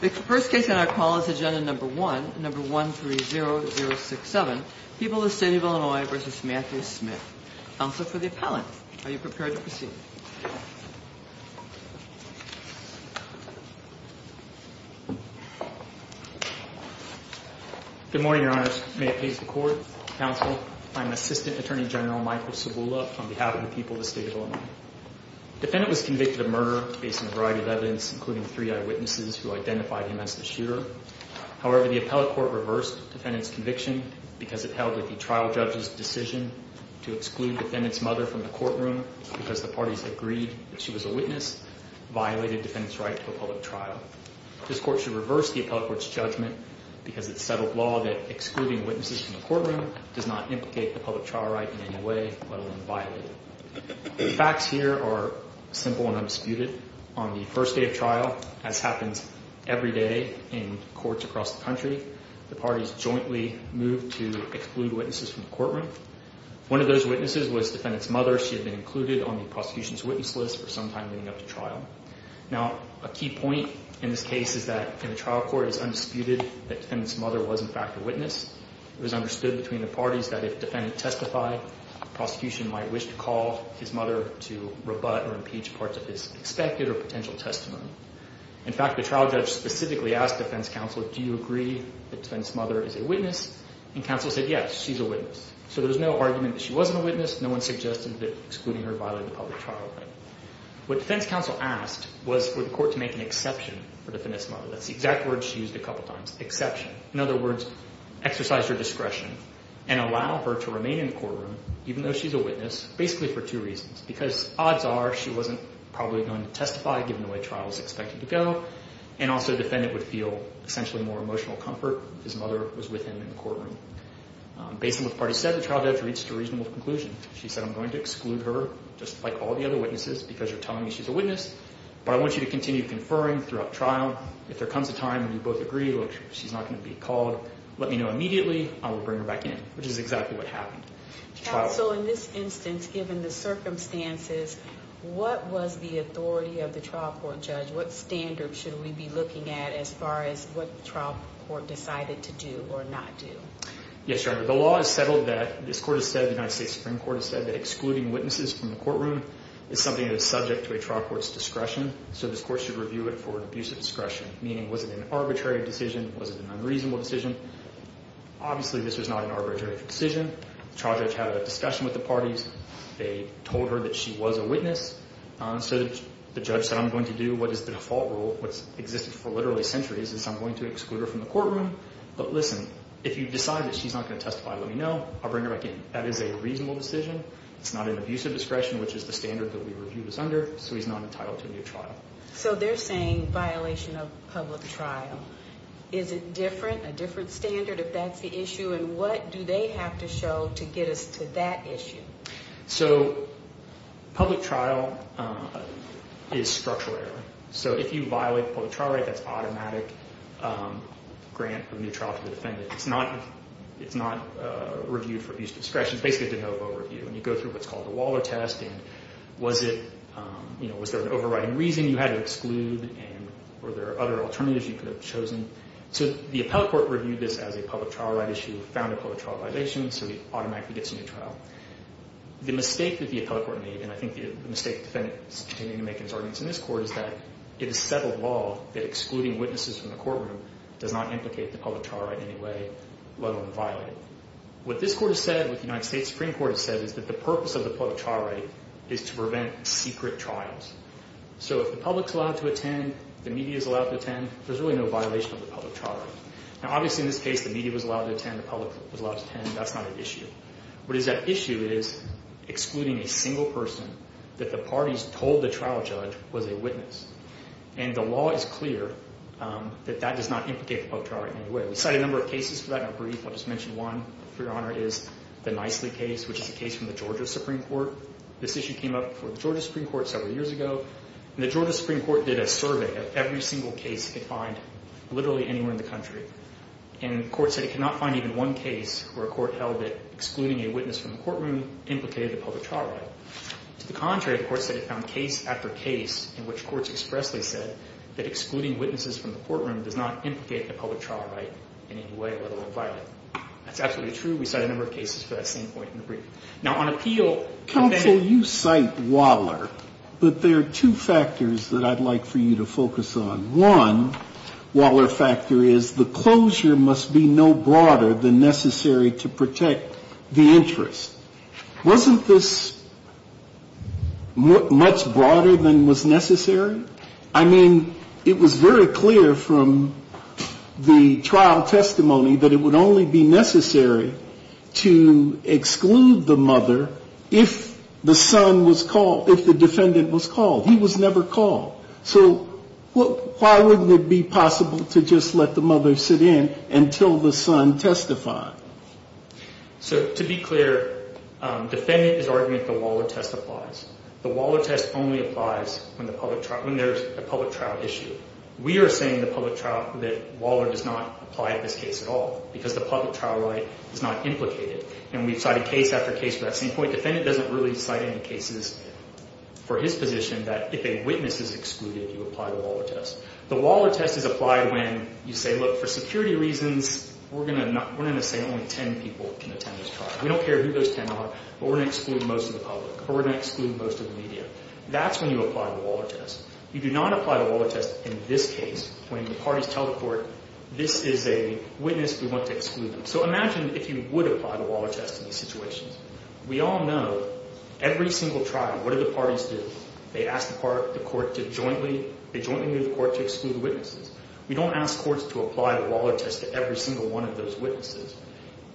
The first case on our call is agenda number 130067, People of the State of Illinois v. Matthew Smith. Counsel for the appellant, are you prepared to proceed? Good morning, Your Honors. May it please the Court, Counsel, I'm Assistant Attorney General Michael Cibula on behalf of the people of the State of Illinois. The defendant was convicted of murder based on a variety of evidence, including three eyewitnesses who identified him as the shooter. However, the appellate court reversed the defendant's conviction because it held that the trial judge's decision to exclude the defendant's mother from the courtroom because the parties agreed that she was a witness violated the defendant's right to a public trial. This court should reverse the appellate court's judgment because it's settled law that excluding witnesses from the courtroom does not implicate the public trial right in any way, let alone violate it. The facts here are simple and undisputed. On the first day of trial, as happens every day in courts across the country, the parties jointly moved to exclude witnesses from the courtroom. One of those witnesses was the defendant's mother. She had been included on the prosecution's witness list for some time leading up to trial. Now, a key point in this case is that in the trial court it is undisputed that the defendant's mother was in fact a witness. It was understood between the parties that if the defendant testified, the prosecution might wish to call his mother to rebut or impeach parts of his expected or potential testimony. In fact, the trial judge specifically asked defense counsel, do you agree that the defendant's mother is a witness? And counsel said, yes, she's a witness. So there's no argument that she wasn't a witness. No one suggested that excluding her violated the public trial right. What defense counsel asked was for the court to make an exception for the defendant's mother. That's the exact word she used a couple times, exception. In other words, exercise her discretion and allow her to remain in the courtroom even though she's a witness basically for two reasons. Because odds are she wasn't probably going to testify given the way the trial was expected to go. And also the defendant would feel essentially more emotional comfort if his mother was with him in the courtroom. Based on what the parties said, the trial judge reached a reasonable conclusion. She said I'm going to exclude her just like all the other witnesses because you're telling me she's a witness. But I want you to continue conferring throughout trial. If there comes a time when you both agree she's not going to be called, let me know immediately. I will bring her back in, which is exactly what happened. Counsel, in this instance, given the circumstances, what was the authority of the trial court judge? What standards should we be looking at as far as what the trial court decided to do or not do? Yes, Your Honor. The law is settled that this court has said, the United States Supreme Court has said, that excluding witnesses from the courtroom is something that is subject to a trial court's discretion. So this court should review it for an abuse of discretion, meaning was it an arbitrary decision? Was it an unreasonable decision? Obviously, this was not an arbitrary decision. The trial judge had a discussion with the parties. They told her that she was a witness. So the judge said I'm going to do what is the default rule, what's existed for literally centuries, is I'm going to exclude her from the courtroom. But listen, if you decide that she's not going to testify, let me know. I'll bring her back in. That is a reasonable decision. It's not an abuse of discretion, which is the standard that we reviewed as under. So he's not entitled to a new trial. So they're saying violation of public trial. Is it different, a different standard if that's the issue? And what do they have to show to get us to that issue? So public trial is structural error. So if you violate the public trial rate, that's automatic grant for a new trial to the defendant. It's not reviewed for abuse of discretion. It's basically de novo review. You go through what's called a Waller test, and was there an overriding reason you had to exclude or were there other alternatives you could have chosen? So the appellate court reviewed this as a public trial right issue, found a public trial violation, so he automatically gets a new trial. The mistake that the appellate court made, and I think the mistake the defendant is continuing to make in his arguments in this court, is that it is settled law that excluding witnesses from the courtroom does not implicate the public trial right in any way, let alone violate it. What this court has said, what the United States Supreme Court has said, is that the purpose of the public trial right is to prevent secret trials. So if the public is allowed to attend, the media is allowed to attend, there's really no violation of the public trial right. Now obviously in this case the media was allowed to attend, the public was allowed to attend, that's not an issue. What is at issue is excluding a single person that the parties told the trial judge was a witness. And the law is clear that that does not implicate the public trial right in any way. We cited a number of cases for that. Now brief, I'll just mention one, for your honor, is the Nicely case, which is a case from the Georgia Supreme Court. This issue came up for the Georgia Supreme Court several years ago. And the Georgia Supreme Court did a survey of every single case it could find literally anywhere in the country. And the court said it could not find even one case where a court held that excluding a witness from the courtroom implicated the public trial right. To the contrary, the court said it found case after case in which courts expressly said that excluding witnesses from the courtroom does not implicate the public trial right in any way, let alone violate it. That's absolutely true. We cited a number of cases for that same point in the brief. Now on appeal. Counsel, you cite Waller, but there are two factors that I'd like for you to focus on. One, Waller factor is the closure must be no broader than necessary to protect the interest. Wasn't this much broader than was necessary? I mean, it was very clear from the trial testimony that it would only be necessary to exclude the mother if the son was called, if the defendant was called. He was never called. So why wouldn't it be possible to just let the mother sit in until the son testified? So to be clear, defendant is arguing that the Waller test applies. The Waller test only applies when there's a public trial issue. We are saying in the public trial that Waller does not apply in this case at all because the public trial right is not implicated. And we've cited case after case for that same point. Defendant doesn't really cite any cases for his position that if a witness is excluded, you apply the Waller test. The Waller test is applied when you say, look, for security reasons, we're going to say only 10 people can attend this trial. We don't care who those 10 are, but we're going to exclude most of the public or we're going to exclude most of the media. That's when you apply the Waller test. You do not apply the Waller test in this case when the parties tell the court, this is a witness we want to exclude. So imagine if you would apply the Waller test in these situations. We all know every single trial, what do the parties do? They ask the court to jointly move the court to exclude the witnesses. We don't ask courts to apply the Waller test to every single one of those witnesses.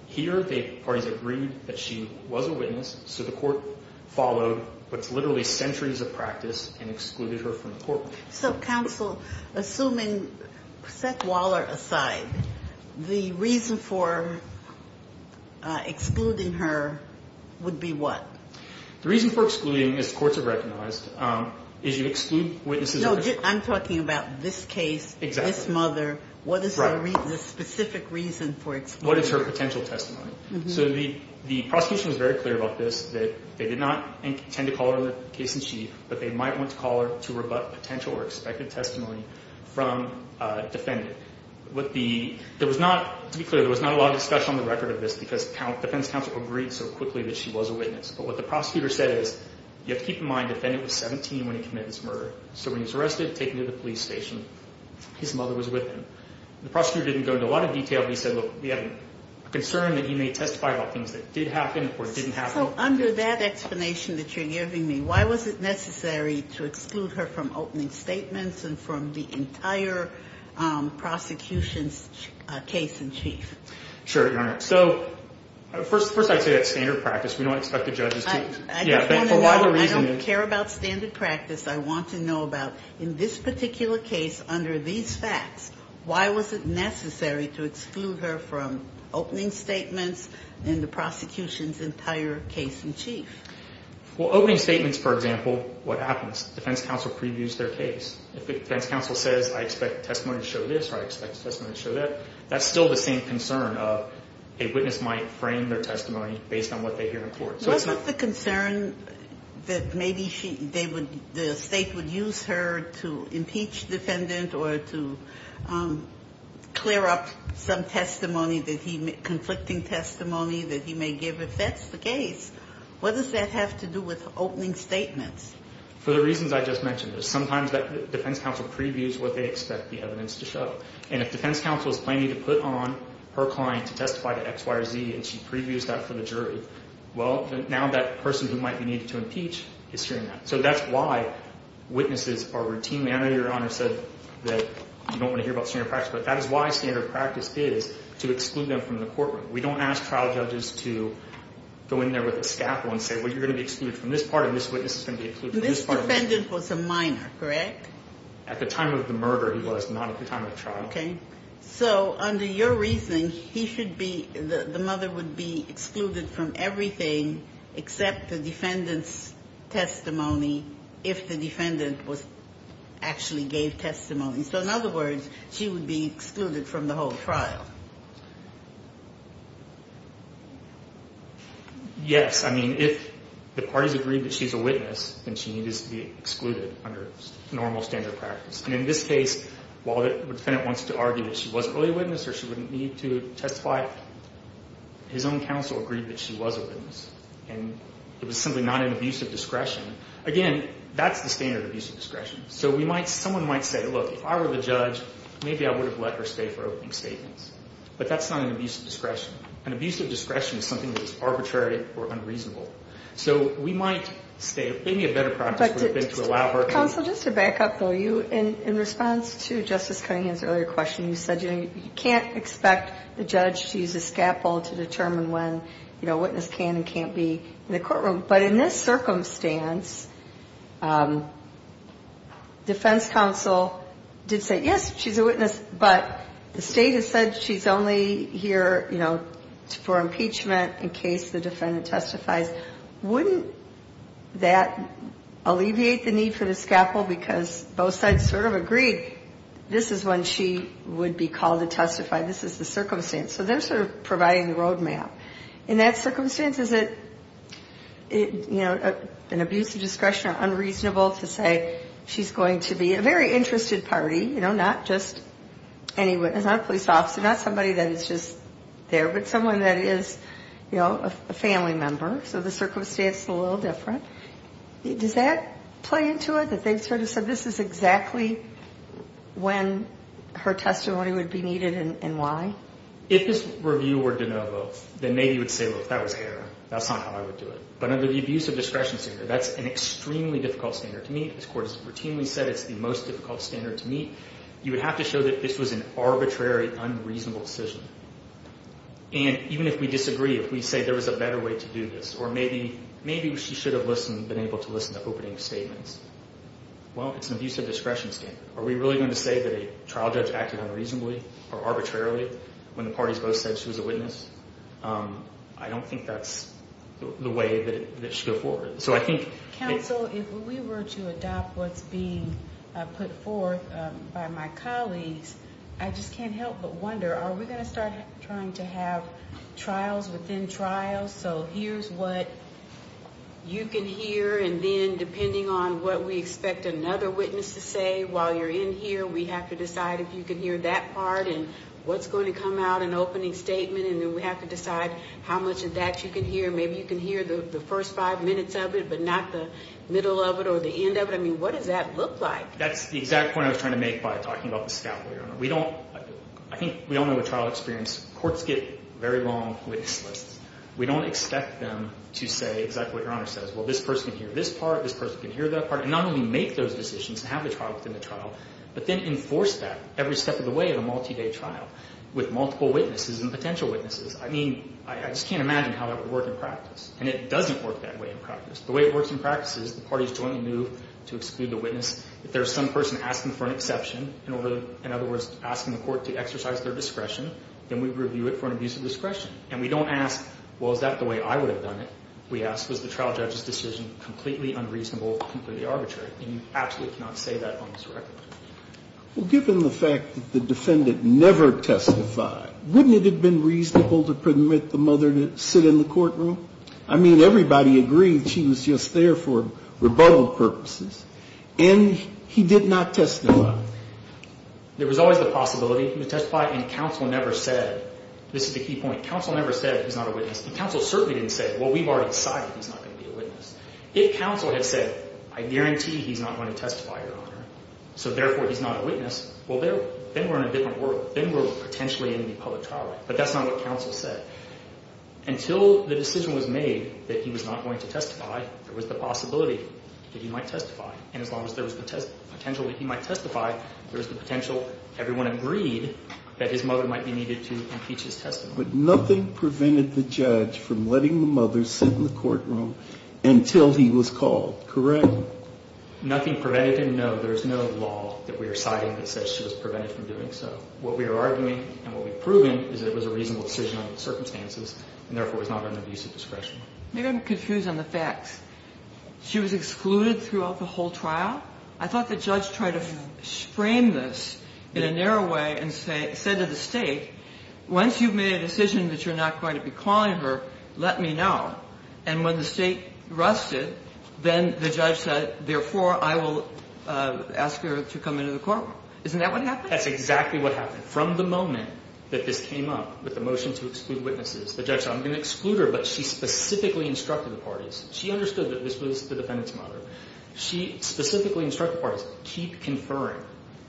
Here the parties agreed that she was a witness, so the court followed what's literally centuries of practice and excluded her from the court. So, counsel, assuming set Waller aside, the reason for excluding her would be what? The reason for excluding, as courts have recognized, is you exclude witnesses. No, I'm talking about this case, this mother. What is the specific reason for excluding her? What is her potential testimony? So the prosecution was very clear about this, that they did not intend to call her in the case in chief, but they might want to call her to rebut potential or expected testimony from a defendant. To be clear, there was not a lot of discussion on the record of this because defense counsel agreed so quickly that she was a witness. But what the prosecutor said is you have to keep in mind the defendant was 17 when he committed this murder. So when he was arrested, taken to the police station, his mother was with him. The prosecutor didn't go into a lot of detail, but he said, look, we have a concern that you may testify about things that did happen or didn't happen. So under that explanation that you're giving me, why was it necessary to exclude her from opening statements and from the entire prosecution's case in chief? Sure, Your Honor. So first I'd say that's standard practice. We don't expect the judges to. I don't care about standard practice. I want to know about in this particular case, under these facts, why was it necessary to exclude her from opening statements and the prosecution's entire case in chief? Well, opening statements, for example, what happens? Defense counsel previews their case. If the defense counsel says I expect testimony to show this or I expect testimony to show that, that's still the same concern of a witness might frame their testimony based on what they hear in court. Was it the concern that maybe the State would use her to impeach defendant or to clear up some testimony, conflicting testimony that he may give? If that's the case, what does that have to do with opening statements? For the reasons I just mentioned, sometimes that defense counsel previews what they expect the evidence to show. And if defense counsel is planning to put on her client to testify to X, Y, or Z and she previews that for the jury, well, now that person who might be needed to impeach is hearing that. So that's why witnesses are routinely – I know Your Honor said that you don't want to hear about standard practice, but that is why standard practice is to exclude them from the courtroom. We don't ask trial judges to go in there with a scaffold and say, well, you're going to be excluded from this part and this witness is going to be excluded from this part. This defendant was a minor, correct? At the time of the murder he was, not at the time of the trial. Okay. So under your reasoning, he should be – the mother would be excluded from everything except the defendant's testimony if the defendant was – actually gave testimony. So in other words, she would be excluded from the whole trial. Yes. I mean, if the parties agree that she's a witness, then she needs to be excluded under normal standard practice. And in this case, while the defendant wants to argue that she was an early witness or she wouldn't need to testify, his own counsel agreed that she was a witness. And it was simply not an abuse of discretion. Again, that's the standard abuse of discretion. So we might – someone might say, look, if I were the judge, maybe I would have let her stay for opening statements. But that's not an abuse of discretion. An abuse of discretion is something that's arbitrary or unreasonable. So we might stay – maybe a better practice would have been to allow her to – Your counsel, just to back up, though, you – in response to Justice Cunningham's earlier question, you said, you know, you can't expect the judge to use a scaffold to determine when, you know, a witness can and can't be in the courtroom. But in this circumstance, defense counsel did say, yes, she's a witness, but the State has said she's only here, you know, for impeachment in case the defendant testifies. Wouldn't that alleviate the need for the scaffold? Because both sides sort of agreed this is when she would be called to testify. This is the circumstance. So they're sort of providing the roadmap. In that circumstance, is it, you know, an abuse of discretion or unreasonable to say she's going to be a very interested party, you know, not just any witness, not a police officer, not somebody that is just there, but someone that is, you know, a family member. So the circumstance is a little different. Does that play into it, that they sort of said this is exactly when her testimony would be needed and why? If this review were de novo, then maybe you would say, well, if that was error, that's not how I would do it. But under the abuse of discretion standard, that's an extremely difficult standard to meet. This Court has routinely said it's the most difficult standard to meet. You would have to show that this was an arbitrary, unreasonable decision. And even if we disagree, if we say there was a better way to do this, or maybe she should have been able to listen to opening statements, well, it's an abuse of discretion standard. Are we really going to say that a trial judge acted unreasonably or arbitrarily when the parties both said she was a witness? I don't think that's the way that it should go forward. So I think— Counsel, if we were to adopt what's being put forth by my colleagues, I just can't help but wonder, are we going to start trying to have trials within trials? So here's what you can hear, and then depending on what we expect another witness to say while you're in here, we have to decide if you can hear that part and what's going to come out in the opening statement, and then we have to decide how much of that you can hear. Maybe you can hear the first five minutes of it, but not the middle of it or the end of it. I mean, what does that look like? That's the exact point I was trying to make by talking about the scalpel, Your Honor. We don't—I think we all know the trial experience. Courts get very long witness lists. We don't expect them to say exactly what Your Honor says. Well, this person can hear this part, this person can hear that part, and not only make those decisions and have the trial within the trial, but then enforce that every step of the way in a multi-day trial with multiple witnesses and potential witnesses. I mean, I just can't imagine how that would work in practice, and it doesn't work that way in practice. The way it works in practice is the parties jointly move to exclude the witness if there's some person asking for an exception, in other words, asking the court to exercise their discretion, then we review it for an abuse of discretion. And we don't ask, well, is that the way I would have done it? We ask, was the trial judge's decision completely unreasonable, completely arbitrary? And you absolutely cannot say that on this record. Well, given the fact that the defendant never testified, wouldn't it have been reasonable to permit the mother to sit in the courtroom? I mean, everybody agreed she was just there for rebuttal purposes. And he did not testify. There was always the possibility he would testify, and counsel never said. This is the key point. Counsel never said he's not a witness, and counsel certainly didn't say, well, we've already decided he's not going to be a witness. If counsel had said, I guarantee he's not going to testify, Your Honor, so therefore he's not a witness, well, then we're in a different world. Then we're potentially in the public trial, but that's not what counsel said. Until the decision was made that he was not going to testify, there was the possibility that he might testify. And as long as there was the potential that he might testify, there was the potential, everyone agreed, that his mother might be needed to impeach his testimony. But nothing prevented the judge from letting the mother sit in the courtroom until he was called, correct? Nothing prevented him. No, there's no law that we are citing that says she was prevented from doing so. What we are arguing and what we've proven is that it was a reasonable decision under the circumstances and therefore was not under the use of discretion. Maybe I'm confused on the facts. She was excluded throughout the whole trial? I thought the judge tried to frame this in a narrow way and said to the State, once you've made a decision that you're not going to be calling her, let me know. And when the State rusted, then the judge said, therefore I will ask her to come into the courtroom. Isn't that what happened? That's exactly what happened. From the moment that this came up with the motion to exclude witnesses, the judge said, I'm going to exclude her, but she specifically instructed the parties. She understood that this was the defendant's mother. She specifically instructed the parties, keep conferring.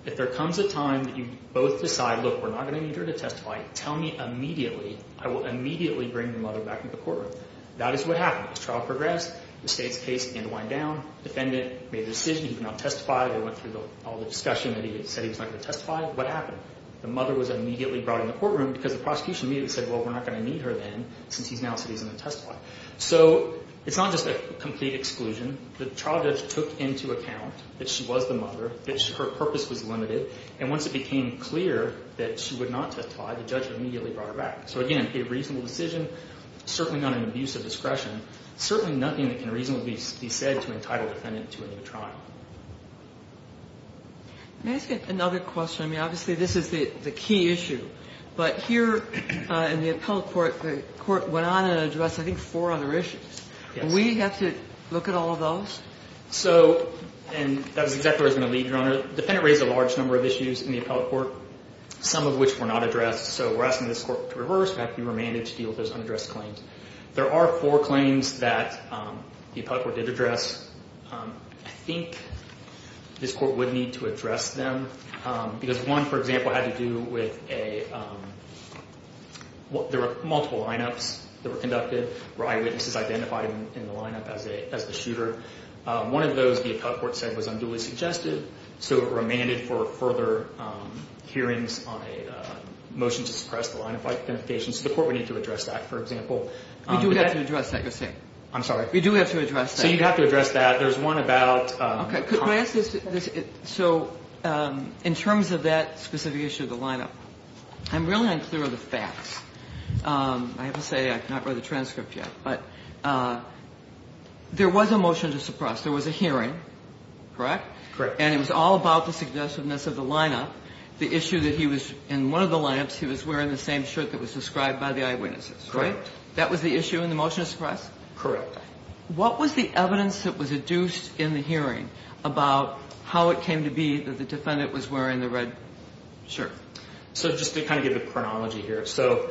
If there comes a time that you both decide, look, we're not going to need her to testify, tell me immediately. I will immediately bring your mother back into the courtroom. That is what happened. The trial progressed. The State's case began to wind down. The defendant made the decision he could not testify. They went through all the discussion that he said he was not going to testify. What happened? The mother was immediately brought into the courtroom because the prosecution immediately said, well, we're not going to need her then since he now said he's not going to testify. So it's not just a complete exclusion. The trial judge took into account that she was the mother, that her purpose was limited, and once it became clear that she would not testify, the judge immediately brought her back. So, again, a reasonable decision, certainly not an abuse of discretion, certainly nothing that can reasonably be said to entitle the defendant to a new trial. Let me ask you another question. I mean, obviously this is the key issue, but here in the appellate court, the court went on and addressed I think four other issues. Yes. Do we have to look at all of those? So, and that is exactly where I was going to leave you, Your Honor. The defendant raised a large number of issues in the appellate court, some of which were not addressed. So we're asking this court to reverse, have to be remanded to deal with those unaddressed claims. There are four claims that the appellate court did address. I think this court would need to address them because one, for example, had to do with a – there were multiple lineups that were conducted where eyewitnesses identified in the lineup as the shooter. One of those the appellate court said was unduly suggested, so it remanded for further hearings on a motion to suppress the lineup identification. So the court would need to address that, for example. We do have to address that, you're saying? I'm sorry? We do have to address that. So you have to address that. There's one about – Could I ask this? So in terms of that specific issue of the lineup, I'm really unclear on the facts. I have to say I have not read the transcript yet, but there was a motion to suppress. There was a hearing, correct? Correct. And it was all about the suggestiveness of the lineup, the issue that he was – in one of the lineups, he was wearing the same shirt that was described by the eyewitnesses, right? Correct. That was the issue in the motion to suppress? Correct. What was the evidence that was adduced in the hearing about how it came to be that the defendant was wearing the red shirt? So just to kind of give a chronology here, so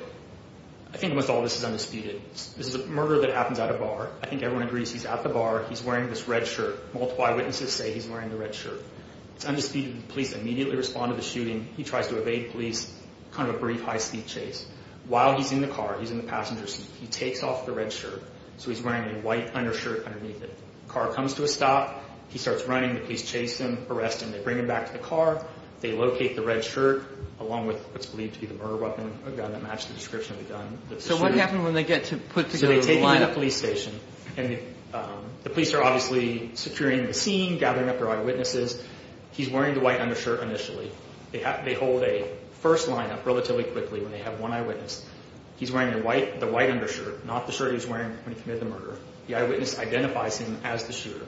I think with all this is undisputed. This is a murder that happens at a bar. I think everyone agrees he's at the bar. He's wearing this red shirt. Multiple eyewitnesses say he's wearing the red shirt. It's undisputed. The police immediately respond to the shooting. He tries to evade police, kind of a brief high-speed chase. While he's in the car, he's in the passenger seat, he takes off the red shirt. So he's wearing a white undershirt underneath it. The car comes to a stop. He starts running. The police chase him, arrest him. They bring him back to the car. They locate the red shirt along with what's believed to be the murder weapon, a gun that matched the description of the gun. So what happened when they get to put together the lineup? So they take him to the police station. And the police are obviously securing the scene, gathering up their eyewitnesses. He's wearing the white undershirt initially. They hold a first lineup relatively quickly when they have one eyewitness. He's wearing the white undershirt, not the shirt he was wearing when he committed the murder. The eyewitness identifies him as the shooter.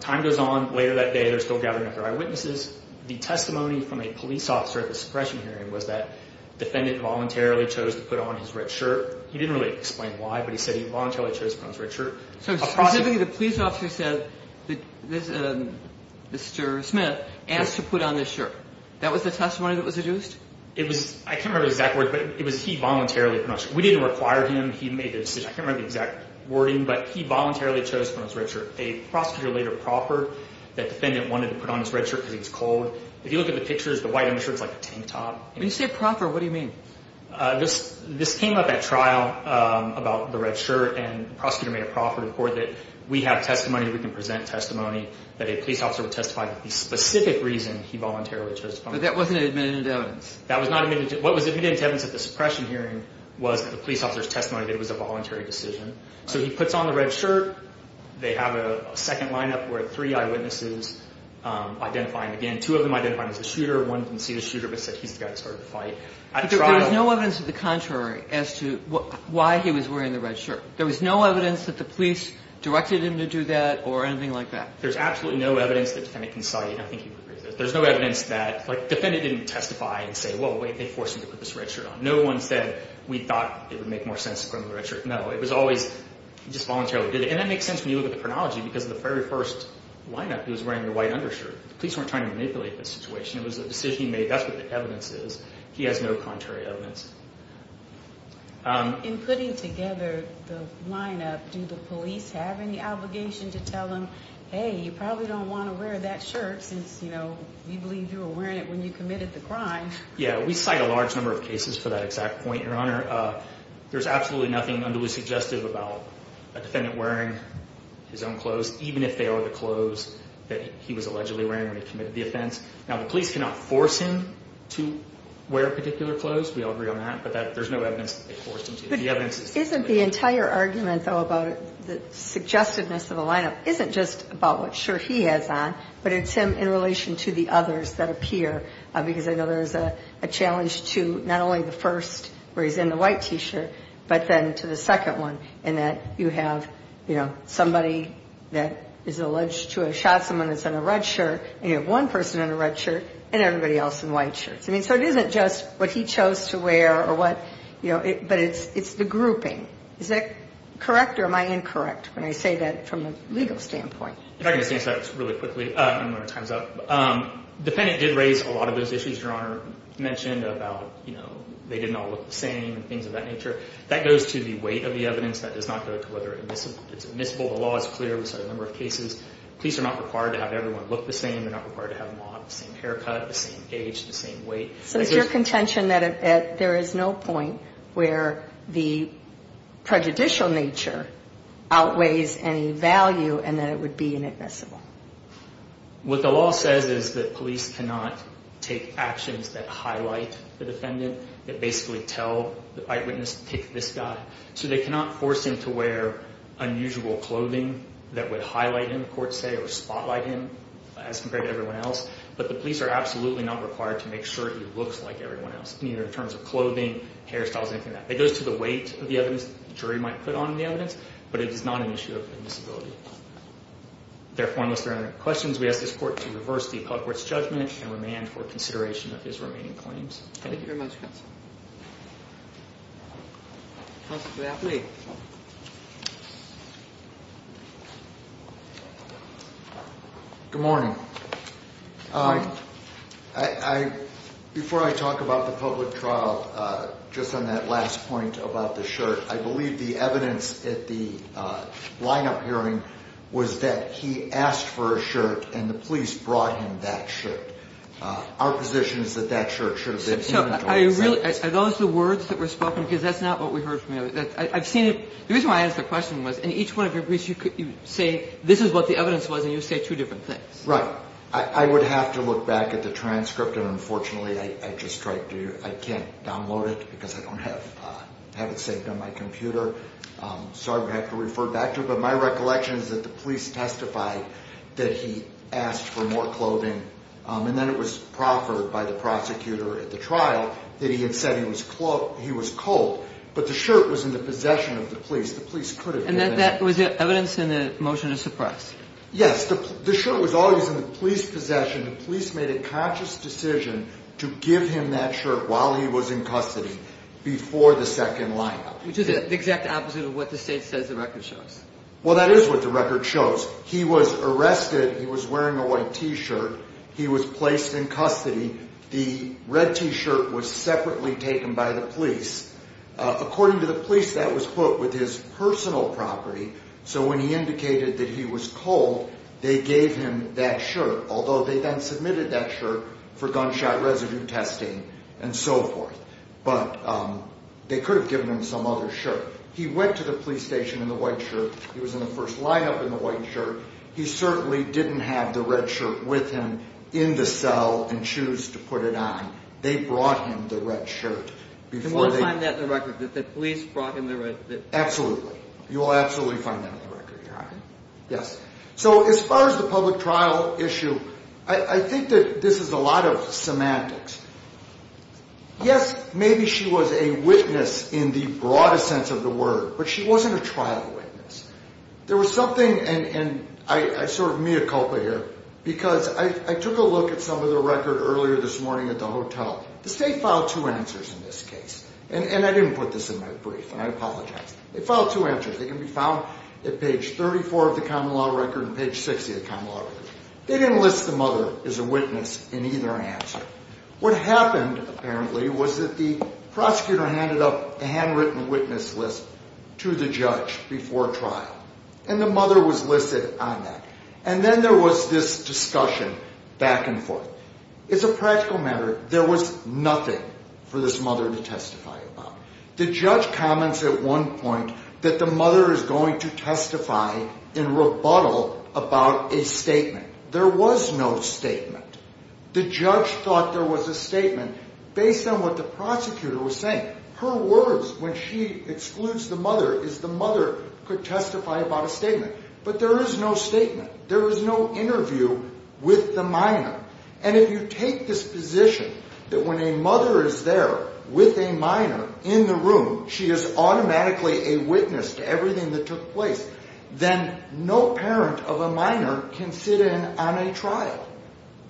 Time goes on. Later that day, they're still gathering up their eyewitnesses. The testimony from a police officer at the suppression hearing was that the defendant voluntarily chose to put on his red shirt. He didn't really explain why, but he said he voluntarily chose to put on his red shirt. So specifically the police officer said, Mr. Smith, asked to put on his shirt. That was the testimony that was deduced? I can't remember the exact words, but it was he voluntarily put on his shirt. We didn't require him. He made the decision. I can't remember the exact wording, but he voluntarily chose to put on his red shirt. A prosecutor later proffered that the defendant wanted to put on his red shirt because he was cold. If you look at the pictures, the white undershirt is like a tank top. When you say proffer, what do you mean? This came up at trial about the red shirt, and the prosecutor made a proffer report that we have testimony, we can present testimony, that a police officer would testify that the specific reason he voluntarily chose to put on his red shirt. But that wasn't an admitted evidence. That was not an admitted evidence. What was admitted evidence at the suppression hearing was that the police officer's testimony that it was a voluntary decision. So he puts on the red shirt. They have a second lineup where three eyewitnesses identify him again. Two of them identified him as the shooter. One didn't see the shooter but said he's the guy that started the fight. There was no evidence to the contrary as to why he was wearing the red shirt. There was no evidence that the police directed him to do that or anything like that. There's absolutely no evidence that the defendant can cite. I think you would agree with this. There's no evidence that the defendant didn't testify and say, well, wait, they forced him to put this red shirt on. No one said we thought it would make more sense to put on the red shirt. No, it was always he just voluntarily did it. And that makes sense when you look at the chronology because the very first lineup, he was wearing the white undershirt. The police weren't trying to manipulate the situation. It was a decision he made. That's what the evidence is. He has no contrary evidence. In putting together the lineup, do the police have any obligation to tell him, hey, you probably don't want to wear that shirt since, you know, you believe you were wearing it when you committed the crime? Yeah, we cite a large number of cases for that exact point, Your Honor. There's absolutely nothing unduly suggestive about a defendant wearing his own clothes, even if they are the clothes that he was allegedly wearing when he committed the offense. Now, the police cannot force him to wear particular clothes. We all agree on that. But there's no evidence that they forced him to. But isn't the entire argument, though, about the suggestiveness of the lineup isn't just about what shirt he has on, but it's him in relation to the others that appear? Because I know there's a challenge to not only the first where he's in the white T-shirt, but then to the second one in that you have, you know, somebody that is alleged to have shot someone that's in a red shirt, and you have one person in a red shirt, and everybody else in white shirts. I mean, so it isn't just what he chose to wear or what, you know, but it's the grouping. Is that correct or am I incorrect when I say that from a legal standpoint? If I can just answer that really quickly, I don't know when our time's up. The defendant did raise a lot of those issues Your Honor mentioned about, you know, they didn't all look the same and things of that nature. That goes to the weight of the evidence. That does not go to whether it's admissible. The law is clear. We cite a number of cases. Police are not required to have everyone look the same. They're not required to have them all have the same haircut, the same age, the same weight. So it's your contention that there is no point where the prejudicial nature outweighs any value and that it would be inadmissible. What the law says is that police cannot take actions that highlight the defendant, that basically tell the eyewitness to pick this guy. So they cannot force him to wear unusual clothing that would highlight him, courts say, or spotlight him as compared to everyone else. But the police are absolutely not required to make sure he looks like everyone else, neither in terms of clothing, hairstyles, anything like that. It goes to the weight of the evidence the jury might put on the evidence, but it is not an issue of admissibility. Therefore, unless there are any questions, we ask this Court to reverse the public court's judgment and remand for consideration of his remaining claims. Thank you very much, counsel. Counsel to the athlete. Good morning. Good morning. Before I talk about the public trial, just on that last point about the shirt, I believe the evidence at the line-up hearing was that he asked for a shirt and the police brought him that shirt. Our position is that that shirt should have been given to him. Are those the words that were spoken? Because that's not what we heard from you. I've seen it. The reason why I asked the question was, in each one of your briefs, you say this is what the evidence was, and you say two different things. Right. I would have to look back at the transcript, and unfortunately, I just can't download it because I don't have it saved on my computer. Sorry to have to refer back to it. But my recollection is that the police testified that he asked for more clothing, and then it was proffered by the prosecutor at the trial that he had said he was cold, but the shirt was in the possession of the police. The police could have given it to him. And that was evidence in the motion to suppress? Yes. The shirt was always in the police's possession. The police made a conscious decision to give him that shirt while he was in custody before the second line-up. Which is the exact opposite of what the state says the record shows. Well, that is what the record shows. He was arrested. He was wearing a white T-shirt. He was placed in custody. The red T-shirt was separately taken by the police. According to the police, that was put with his personal property, so when he indicated that he was cold, they gave him that shirt, although they then submitted that shirt for gunshot residue testing and so forth. But they could have given him some other shirt. He went to the police station in the white shirt. He was in the first line-up in the white shirt. He certainly didn't have the red shirt with him in the cell and choose to put it on. They brought him the red shirt. Can one find that in the record, that the police brought him the red shirt? Absolutely. You will absolutely find that in the record. Yes. So as far as the public trial issue, I think that this is a lot of semantics. Yes, maybe she was a witness in the broadest sense of the word, but she wasn't a trial witness. There was something, and I sort of mea culpa here, because I took a look at some of the record earlier this morning at the hotel. The state filed two answers in this case, and I didn't put this in my brief, and I apologize. They filed two answers. They can be found at page 34 of the common law record and page 60 of the common law record. They didn't list the mother as a witness in either answer. What happened apparently was that the prosecutor handed up a handwritten witness list to the judge before trial, and the mother was listed on that, and then there was this discussion back and forth. As a practical matter, there was nothing for this mother to testify about. The judge comments at one point that the mother is going to testify in rebuttal about a statement. There was no statement. The judge thought there was a statement based on what the prosecutor was saying. Her words when she excludes the mother is the mother could testify about a statement, but there is no statement. There is no interview with the minor, and if you take this position that when a mother is there with a minor in the room, she is automatically a witness to everything that took place, then no parent of a minor can sit in on a trial.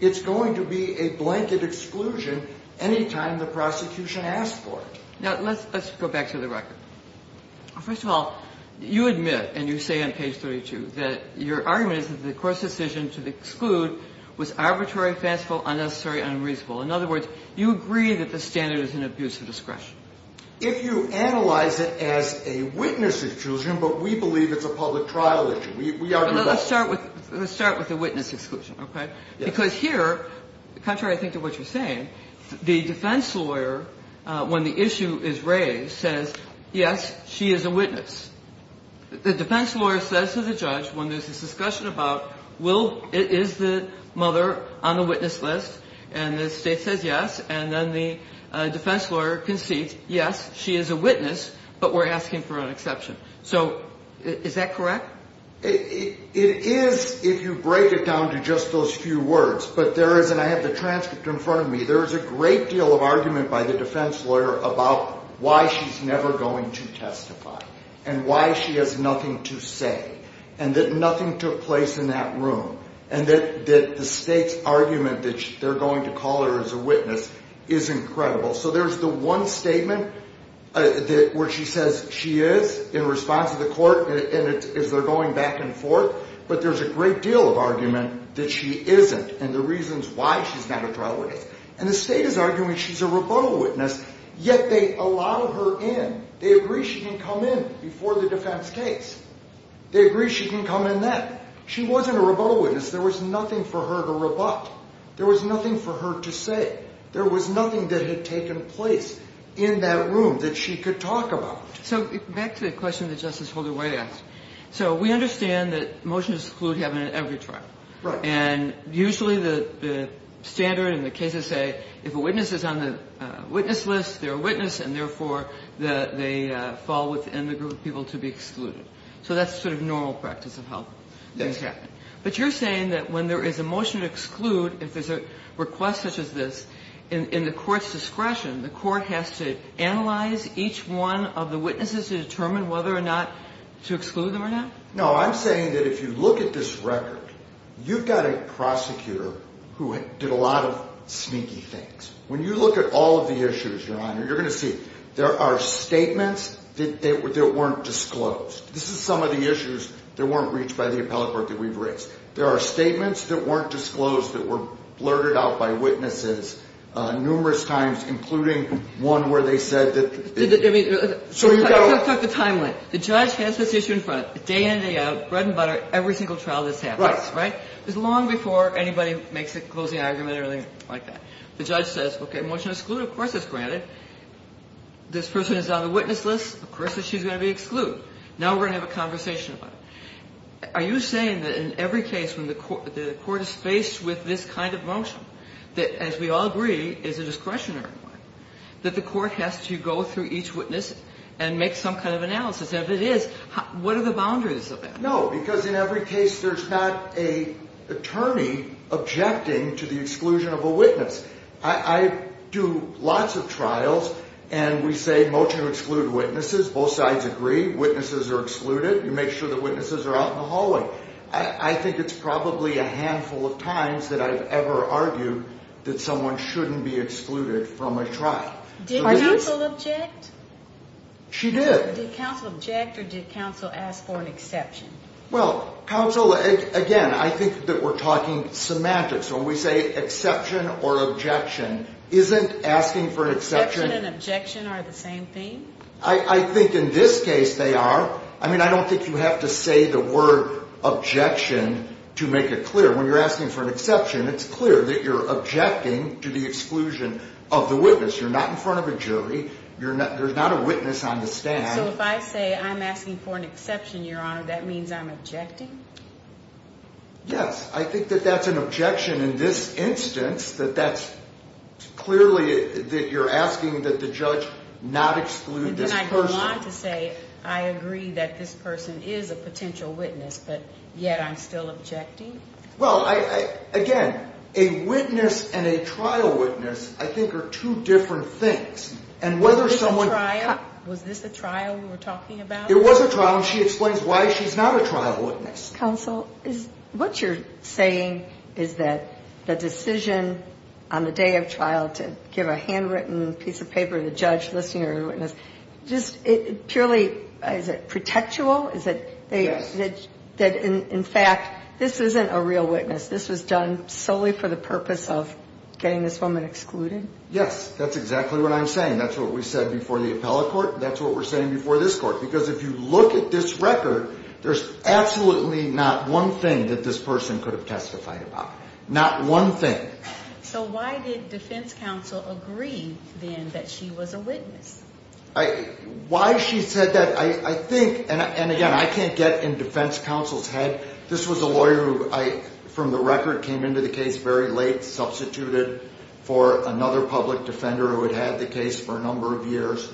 It's going to be a blanket exclusion any time the prosecution asks for it. Now, let's go back to the record. First of all, you admit, and you say on page 32, that your argument is that the court's decision to exclude was arbitrary, fanciful, unnecessary, unreasonable. In other words, you agree that the standard is an abuse of discretion. If you analyze it as a witness exclusion, but we believe it's a public trial issue. We argue that. Let's start with the witness exclusion, okay? Because here, contrary, I think, to what you're saying, the defense lawyer, when the issue is raised, says, yes, she is a witness. The defense lawyer says to the judge when there's this discussion about is the mother on the witness list, and the state says yes, and then the defense lawyer concedes, yes, she is a witness, but we're asking for an exception. So is that correct? It is if you break it down to just those few words, but there is, and I have the transcript in front of me, there is a great deal of argument by the defense lawyer about why she's never going to testify, and why she has nothing to say, and that nothing took place in that room, and that the state's argument that they're going to call her as a witness is incredible. So there's the one statement where she says she is in response to the court, and they're going back and forth, but there's a great deal of argument that she isn't, and the reasons why she's not a trial witness. And the state is arguing she's a rebuttal witness, yet they allow her in. They agree she can come in before the defense case. They agree she can come in then. She wasn't a rebuttal witness. There was nothing for her to rebut. There was nothing for her to say. There was nothing that had taken place in that room that she could talk about. So back to the question that Justice Holder-White asked. So we understand that motions exclude having an every trial. And usually the standard in the cases say if a witness is on the witness list, they're a witness, and therefore they fall within the group of people to be excluded. So that's sort of normal practice of how things happen. Yes. But you're saying that when there is a motion to exclude, if there's a request such as this, in the court's discretion, the court has to analyze each one of the witnesses to determine whether or not to exclude them or not? No, I'm saying that if you look at this record, you've got a prosecutor who did a lot of sneaky things. When you look at all of the issues, Your Honor, you're going to see there are statements that weren't disclosed. This is some of the issues that weren't reached by the appellate board that we've reached. There are statements that weren't disclosed that were blurted out by witnesses numerous times, including one where they said that they need to go. So you've got to look at the timeline. The judge has this issue in front. Day in, day out, bread and butter, every single trial that's happened. Right. Right? It's long before anybody makes a closing argument or anything like that. The judge says, okay, motion to exclude, of course it's granted. This person is on the witness list. Of course that she's going to be excluded. Now we're going to have a conversation about it. Are you saying that in every case when the court is faced with this kind of motion, that as we all agree is a discretionary one, that the court has to go through each witness and make some kind of analysis? And if it is, what are the boundaries of that? No, because in every case there's not an attorney objecting to the exclusion of a witness. I do lots of trials and we say motion to exclude witnesses. Both sides agree. Witnesses are excluded. You make sure the witnesses are out in the hallway. I think it's probably a handful of times that I've ever argued that someone shouldn't be excluded from a trial. Did counsel object? She did. Did counsel object or did counsel ask for an exception? Well, counsel, again, I think that we're talking semantics. When we say exception or objection, isn't asking for an exception. Exception and objection are the same thing? I think in this case they are. I mean, I don't think you have to say the word objection to make it clear. When you're asking for an exception, it's clear that you're objecting to the exclusion of the witness. You're not in front of a jury. There's not a witness on the stand. So if I say I'm asking for an exception, Your Honor, that means I'm objecting? Yes. I think that that's an objection in this instance, that that's clearly that you're asking that the judge not exclude this person. Then I can lie to say I agree that this person is a potential witness, but yet I'm still objecting? Well, again, a witness and a trial witness I think are two different things. Was this a trial we were talking about? It was a trial, and she explains why she's not a trial witness. Counsel, what you're saying is that the decision on the day of trial to give a handwritten piece of paper to the judge listing her witness, just purely, is it protectual? Is it that in fact this isn't a real witness? This was done solely for the purpose of getting this woman excluded? Yes, that's exactly what I'm saying. That's what we said before the appellate court. That's what we're saying before this court, because if you look at this record, there's absolutely not one thing that this person could have testified about, not one thing. So why did defense counsel agree then that she was a witness? Why she said that, I think, and again, I can't get in defense counsel's head. This was a lawyer who I, from the record, came into the case very late, substituted for another public defender who had had the case for a number of years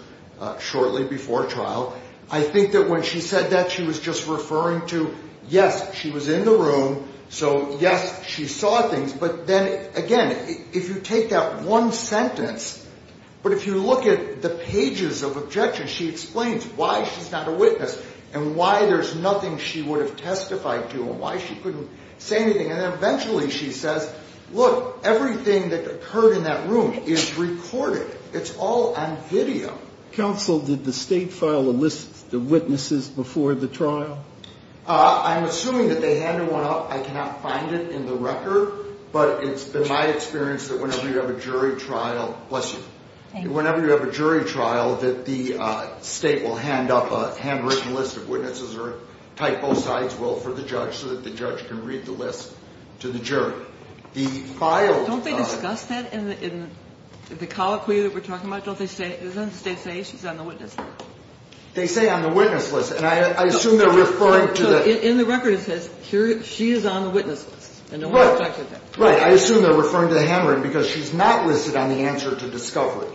shortly before trial. I think that when she said that, she was just referring to, yes, she was in the room, so, yes, she saw things. But then, again, if you take that one sentence, but if you look at the pages of objections, she explains why she's not a witness and why there's nothing she would have testified to and why she couldn't say anything. And then eventually she says, look, everything that occurred in that room is recorded. It's all on video. Counsel, did the state file a list of witnesses before the trial? I'm assuming that they handed one up. I cannot find it in the record. But it's been my experience that whenever you have a jury trial, bless you, whenever you have a jury trial that the state will hand up a handwritten list of witnesses or type both sides will for the judge so that the judge can read the list to the jury. The file of the jury trial. Don't they discuss that in the colloquy that we're talking about? Doesn't the state say she's on the witness list? They say on the witness list. And I assume they're referring to the – So in the record it says she is on the witness list and no one objected to that. Right. I assume they're referring to the handwritten because she's not listed on the answer to discovery,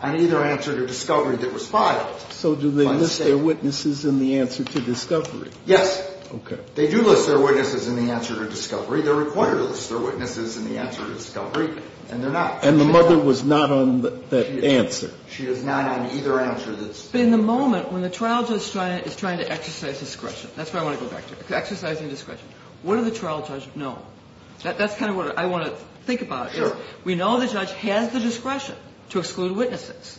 on either answer to discovery that was filed. So do they list their witnesses in the answer to discovery? Yes. Okay. They do list their witnesses in the answer to discovery. They're required to list their witnesses in the answer to discovery, and they're not. And the mother was not on that answer. She is not on either answer to discovery. But in the moment when the trial judge is trying to exercise discretion, that's what I want to go back to, exercising discretion. What do the trial judge know? That's kind of what I want to think about. Sure. We know the judge has the discretion to exclude witnesses.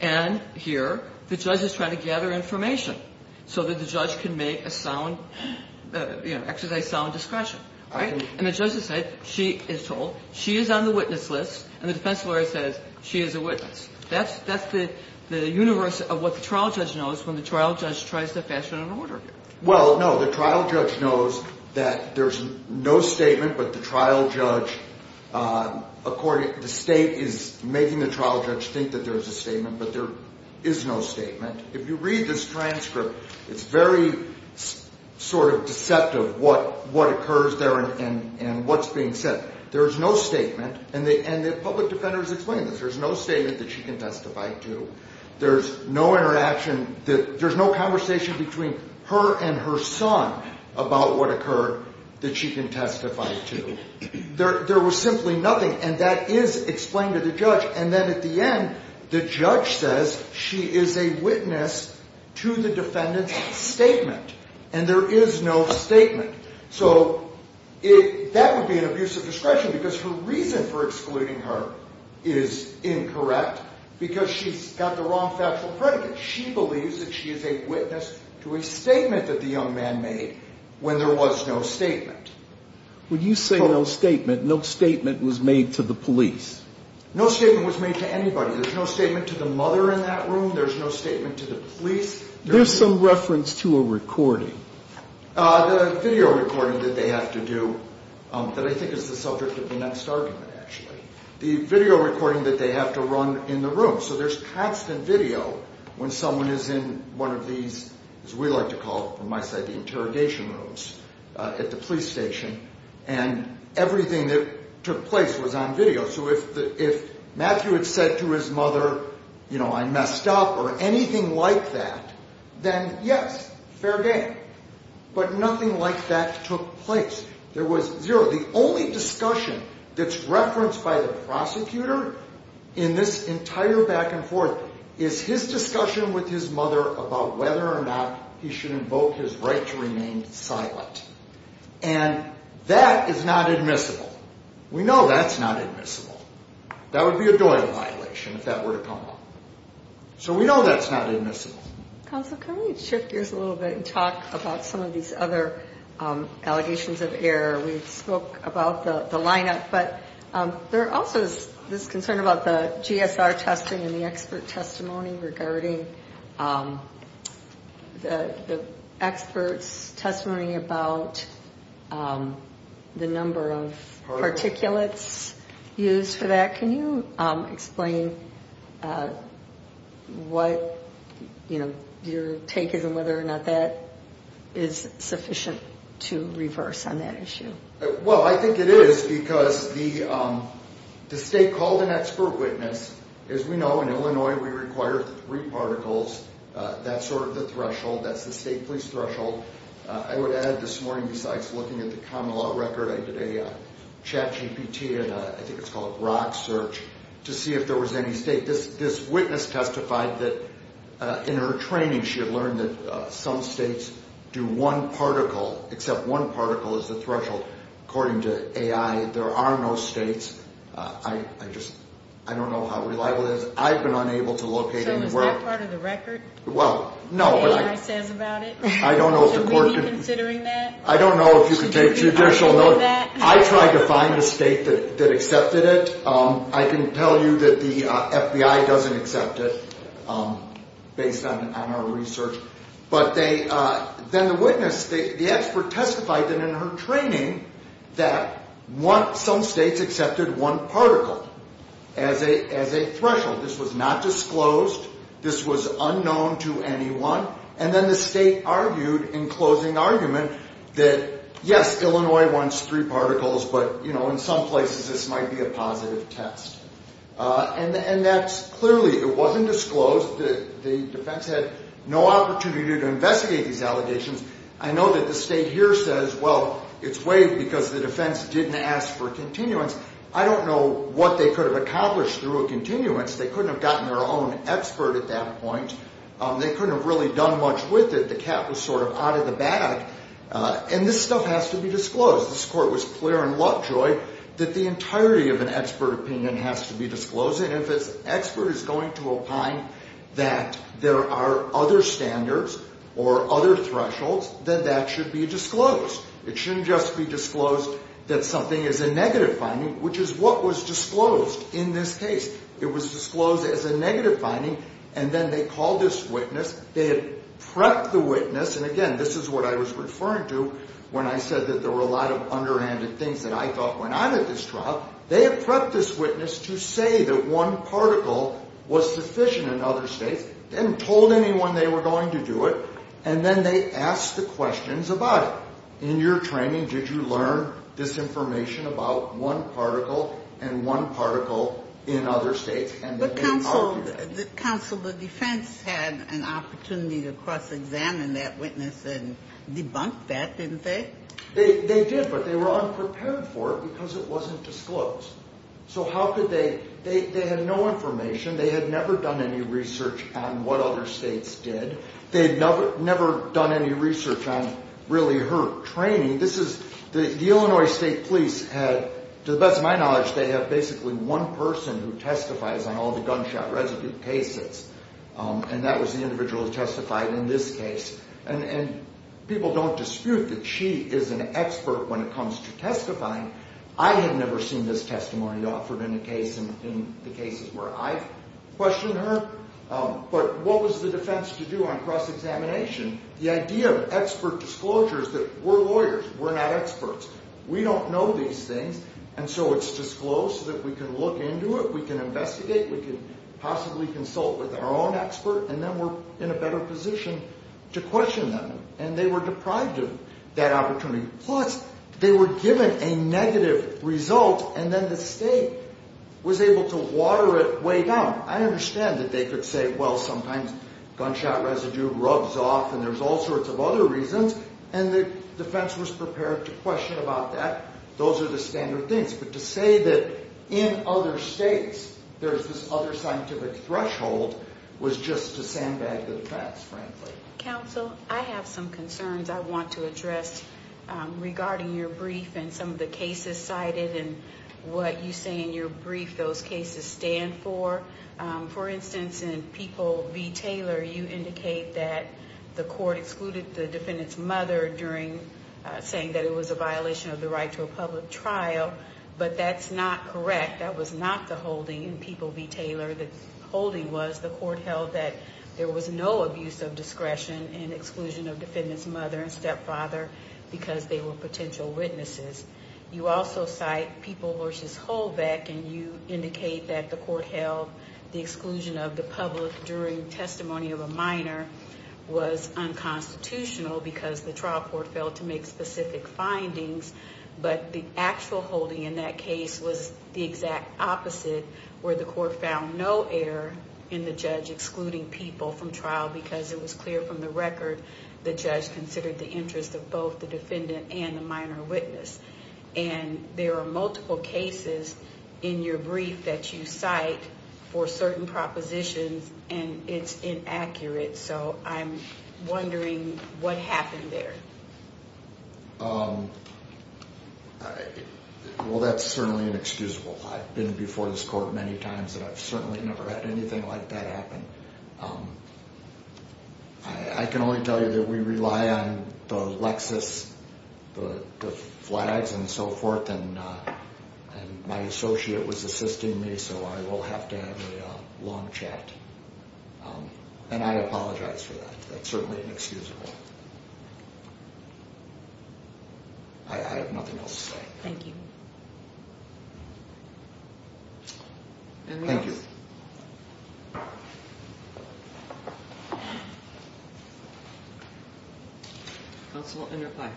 And here the judge is trying to gather information so that the judge can make a sound, you know, exercise sound discretion. Right? And the judge has said she is told she is on the witness list, and the defense lawyer says she is a witness. That's the universe of what the trial judge knows when the trial judge tries to fashion an order. Well, no, the trial judge knows that there's no statement, but the trial judge, the state is making the trial judge think that there's a statement, but there is no statement. If you read this transcript, it's very sort of deceptive what occurs there and what's being said. There's no statement, and the public defender has explained this. There's no statement that she can testify to. There's no interaction. There's no conversation between her and her son about what occurred that she can testify to. There was simply nothing, and that is explained to the judge, and then at the end the judge says she is a witness to the defendant's statement, and there is no statement. So that would be an abusive discretion because her reason for excluding her is incorrect because she's got the wrong factual predicate. She believes that she is a witness to a statement that the young man made when there was no statement. When you say no statement, no statement was made to the police. No statement was made to anybody. There's no statement to the mother in that room. There's no statement to the police. There's some reference to a recording. The video recording that they have to do that I think is the subject of the next argument, actually. The video recording that they have to run in the room. So there's constant video when someone is in one of these, as we like to call it, the interrogation rooms at the police station, and everything that took place was on video. So if Matthew had said to his mother, you know, I messed up or anything like that, then yes, fair game, but nothing like that took place. There was zero. The only discussion that's referenced by the prosecutor in this entire back and forth is his discussion with his mother about whether or not he should invoke his right to remain silent. And that is not admissible. We know that's not admissible. That would be a doiling violation if that were to come up. So we know that's not admissible. Counsel, can we shift gears a little bit and talk about some of these other allegations of error? We spoke about the lineup, but there also is this concern about the GSR testing and the expert testimony regarding the experts' testimony about the number of particulates used for that. Can you explain what your take is and whether or not that is sufficient to reverse on that issue? Well, I think it is because the state called an expert witness. As we know, in Illinois, we require three particles. That's sort of the threshold. That's the state police threshold. I would add this morning, besides looking at the common law record, I did a chat GPT and I think it's called rock search to see if there was any state. This witness testified that in her training, she had learned that some states do one particle, except one particle is the threshold. According to AI, there are no states. I just don't know how reliable that is. I've been unable to locate anywhere. So is that part of the record? Well, no. What AI says about it? I don't know if the court can... So will you be considering that? I don't know if you can take judicial notice. I tried to find the state that accepted it. I can tell you that the FBI doesn't accept it, based on our research. But then the witness, the expert testified that in her training, that some states accepted one particle as a threshold. This was not disclosed. This was unknown to anyone. And then the state argued in closing argument that, yes, Illinois wants three particles, but, you know, in some places this might be a positive test. And that's clearly, it wasn't disclosed. The defense had no opportunity to investigate these allegations. I know that the state here says, well, it's waived because the defense didn't ask for continuance. I don't know what they could have accomplished through a continuance. They couldn't have gotten their own expert at that point. They couldn't have really done much with it. The cat was sort of out of the bag. And this stuff has to be disclosed. This court was clear in Lovejoy that the entirety of an expert opinion has to be disclosed. And if an expert is going to opine that there are other standards or other thresholds, then that should be disclosed. It shouldn't just be disclosed that something is a negative finding, which is what was disclosed in this case. It was disclosed as a negative finding. And then they called this witness. They had prepped the witness. And, again, this is what I was referring to when I said that there were a lot of underhanded things that I thought went on in this trial. They had prepped this witness to say that one particle was sufficient in other states. They hadn't told anyone they were going to do it. And then they asked the questions about it. In your training, did you learn this information about one particle and one particle in other states? But counsel, the defense had an opportunity to cross-examine that witness and debunk that, didn't they? They did, but they were unprepared for it because it wasn't disclosed. So how could they? They had no information. They had never done any research on what other states did. They had never done any research on really her training. The Illinois State Police had, to the best of my knowledge, they have basically one person who testifies on all the gunshot residue cases, and that was the individual who testified in this case. And people don't dispute that she is an expert when it comes to testifying. I had never seen this testimony offered in the cases where I've questioned her. But what was the defense to do on cross-examination? The idea of expert disclosure is that we're lawyers, we're not experts. We don't know these things, and so it's disclosed so that we can look into it, we can investigate, we can possibly consult with our own expert, and then we're in a better position to question them. And they were deprived of that opportunity. Plus, they were given a negative result, and then the state was able to water it way down. I understand that they could say, well, sometimes gunshot residue rubs off and there's all sorts of other reasons, and the defense was prepared to question about that. Those are the standard things. But to say that in other states there's this other scientific threshold was just to sandbag the defense, frankly. Counsel, I have some concerns I want to address regarding your brief and some of the cases cited and what you say in your brief those cases stand for. For instance, in People v. Taylor, you indicate that the court excluded the defendant's mother during saying that it was a violation of the right to a public trial, but that's not correct. That was not the holding in People v. Taylor. The holding was the court held that there was no abuse of discretion and exclusion of defendant's mother and stepfather because they were potential witnesses. You also cite People v. Holbeck, and you indicate that the court held the exclusion of the public during testimony of a minor was unconstitutional because the trial court failed to make specific findings. But the actual holding in that case was the exact opposite, where the court found no error in the judge excluding people from trial because it was clear from the record the judge considered the interest of both the defendant and the minor witness. And there are multiple cases in your brief that you cite for certain propositions, and it's inaccurate. So I'm wondering what happened there. Well, that's certainly inexcusable. I've been before this court many times, and I've certainly never had anything like that happen. I can only tell you that we rely on the Lexis, the flags and so forth, and my associate was assisting me, so I will have to have a long chat. And I apologize for that. That's certainly inexcusable. I have nothing else to say. Thank you. Thank you. Counsel, in reply.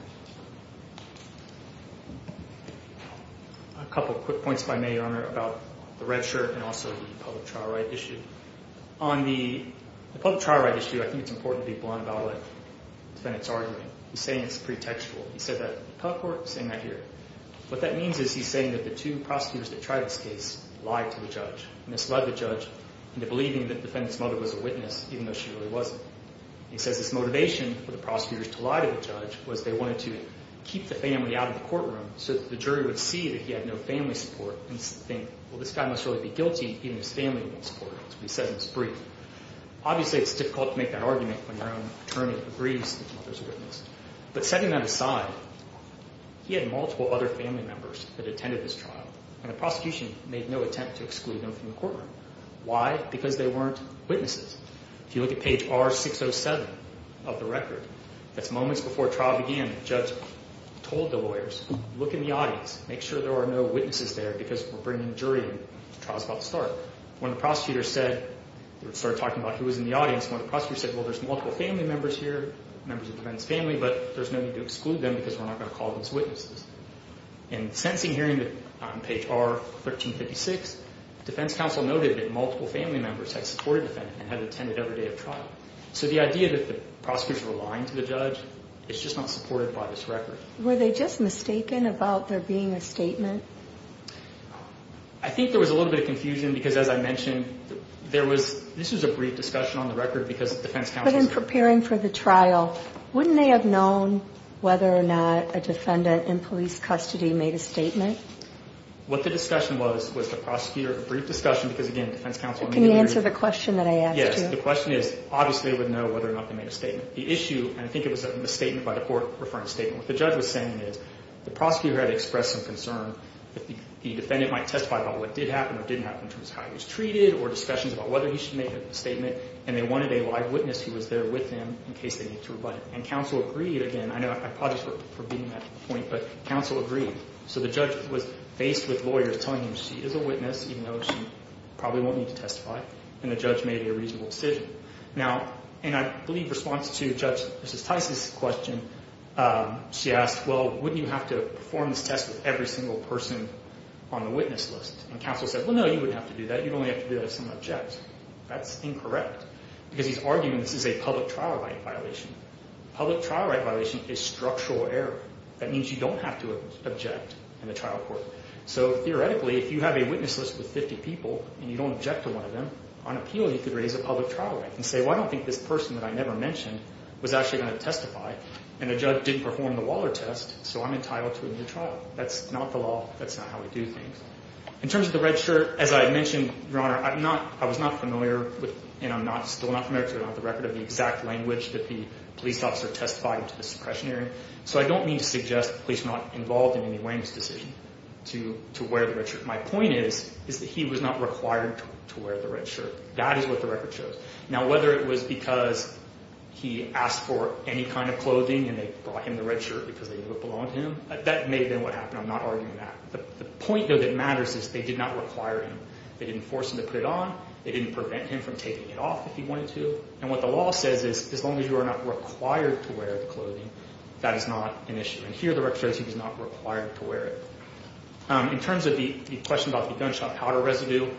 A couple quick points if I may, Your Honor, about the red shirt and also the public trial right issue. On the public trial right issue, I think it's important to be blunt about the defendant's argument. He's saying it's pretextual. He said that in the public court, he's saying that here. What that means is he's saying that the two prosecutors that tried this case lied to the judge, misled the judge into believing that the defendant's mother was a witness, even though she really wasn't. He says his motivation for the prosecutors to lie to the judge was they wanted to keep the family out of the courtroom so that the jury would see that he had no family support and think, well, this guy must really be guilty even if his family won't support him. That's what he said in his brief. Obviously, it's difficult to make that argument when your own attorney agrees that his mother's a witness. But setting that aside, he had multiple other family members that attended this trial, and the prosecution made no attempt to exclude them from the courtroom. Why? Because they weren't witnesses. If you look at page R607 of the record, that's moments before trial began. The judge told the lawyers, look in the audience. Make sure there are no witnesses there because we're bringing a jury in. The trial's about to start. When the prosecutor said, they started talking about who was in the audience. When the prosecutor said, well, there's multiple family members here, members of the defendant's family, but there's no need to exclude them because we're not going to call them as witnesses. In the sentencing hearing on page R1356, defense counsel noted that multiple family members had supported the defendant and had attended every day of trial. So the idea that the prosecutors were lying to the judge is just not supported by this record. Were they just mistaken about there being a statement? I think there was a little bit of confusion because, as I mentioned, this was a brief discussion on the record because defense counsel— When they were preparing for the trial, wouldn't they have known whether or not a defendant in police custody made a statement? What the discussion was, was the prosecutor—a brief discussion because, again, defense counsel— Can you answer the question that I asked you? Yes. The question is, obviously they would know whether or not they made a statement. The issue, and I think it was a misstatement by the court referring to a statement, what the judge was saying is the prosecutor had expressed some concern that the defendant might testify about what did happen or didn't happen in terms of how he was treated or discussions about whether he should make a statement, and they wanted a live witness who was there with him in case they needed to rebut it. And counsel agreed. Again, I apologize for beating that point, but counsel agreed. So the judge was faced with lawyers telling him she is a witness, even though she probably won't need to testify, and the judge made a reasonable decision. Now—and I believe in response to Judge Mrs. Tice's question, she asked, well, wouldn't you have to perform this test with every single person on the witness list? And counsel said, well, no, you wouldn't have to do that. You'd only have to do that if someone objects. That's incorrect because he's arguing this is a public trial right violation. Public trial right violation is structural error. That means you don't have to object in the trial court. So theoretically, if you have a witness list with 50 people and you don't object to one of them, on appeal you could raise a public trial right and say, well, I don't think this person that I never mentioned was actually going to testify, and the judge didn't perform the Waller test, so I'm entitled to a new trial. That's not the law. That's not how we do things. In terms of the red shirt, as I mentioned, Your Honor, I'm not—I was not familiar with— and I'm still not familiar because I don't have the record of the exact language that the police officer testified into the suppression hearing, so I don't mean to suggest the police were not involved in any way in this decision to wear the red shirt. My point is, is that he was not required to wear the red shirt. That is what the record shows. Now, whether it was because he asked for any kind of clothing and they brought him the red shirt because they knew it belonged to him, that may have been what happened. I'm not arguing that. The point, though, that matters is they did not require him. They didn't force him to put it on. They didn't prevent him from taking it off if he wanted to. And what the law says is as long as you are not required to wear the clothing, that is not an issue. And here the record shows he was not required to wear it. In terms of the question about the gunshot powder residue,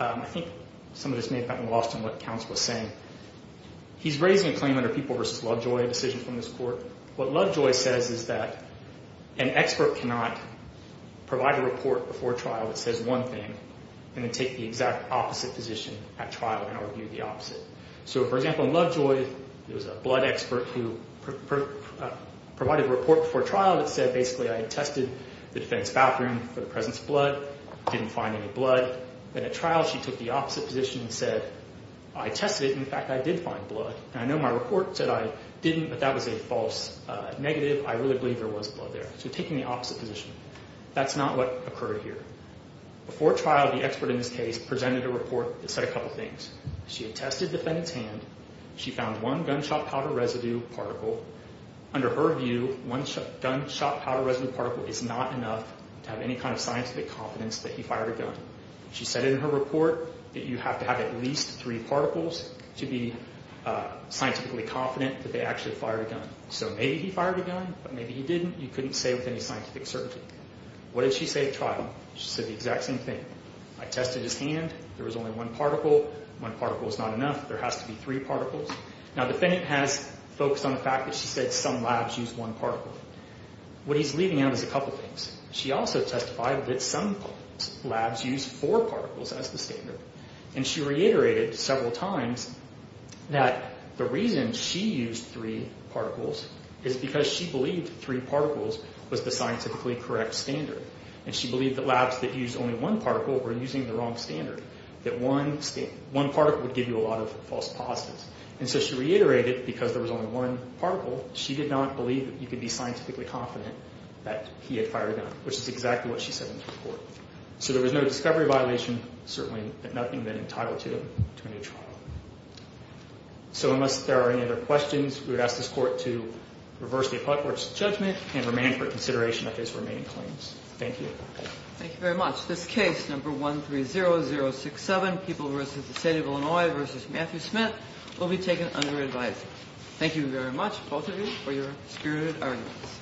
I think some of this may have gotten lost in what counsel was saying. He's raising a claim under People v. Lovejoy, a decision from this court. What Lovejoy says is that an expert cannot provide a report before trial that says one thing and then take the exact opposite position at trial and argue the opposite. So, for example, in Lovejoy there was a blood expert who provided a report before trial that said basically I had tested the defense bathroom for the presence of blood, didn't find any blood. Then at trial she took the opposite position and said I tested it and, in fact, I did find blood. And I know my report said I didn't, but that was a false negative. I really believe there was blood there. So taking the opposite position. That's not what occurred here. Before trial, the expert in this case presented a report that said a couple things. She had tested the defendant's hand. She found one gunshot powder residue particle. Under her view, one gunshot powder residue particle is not enough to have any kind of scientific confidence that he fired a gun. She said in her report that you have to have at least three particles to be scientifically confident that they actually fired a gun. So maybe he fired a gun, but maybe he didn't. You couldn't say with any scientific certainty. What did she say at trial? She said the exact same thing. I tested his hand. There was only one particle. One particle is not enough. There has to be three particles. Now the defendant has focused on the fact that she said some labs use one particle. What he's leaving out is a couple things. She also testified that some labs use four particles as the standard. She reiterated several times that the reason she used three particles is because she believed three particles was the scientifically correct standard. She believed that labs that use only one particle were using the wrong standard, that one particle would give you a lot of false positives. So she reiterated because there was only one particle, she did not believe that you could be scientifically confident that he had fired a gun, which is exactly what she said in her report. So there was no discovery violation, certainly, and nothing had been entitled to a new trial. So unless there are any other questions, we would ask this Court to reverse the appellate court's judgment and remain for consideration of his remaining claims. Thank you. Thank you very much. This case, number 130067, People v. the State of Illinois v. Matthew Smith, will be taken under advisory. Thank you very much, both of you, for your spirited arguments.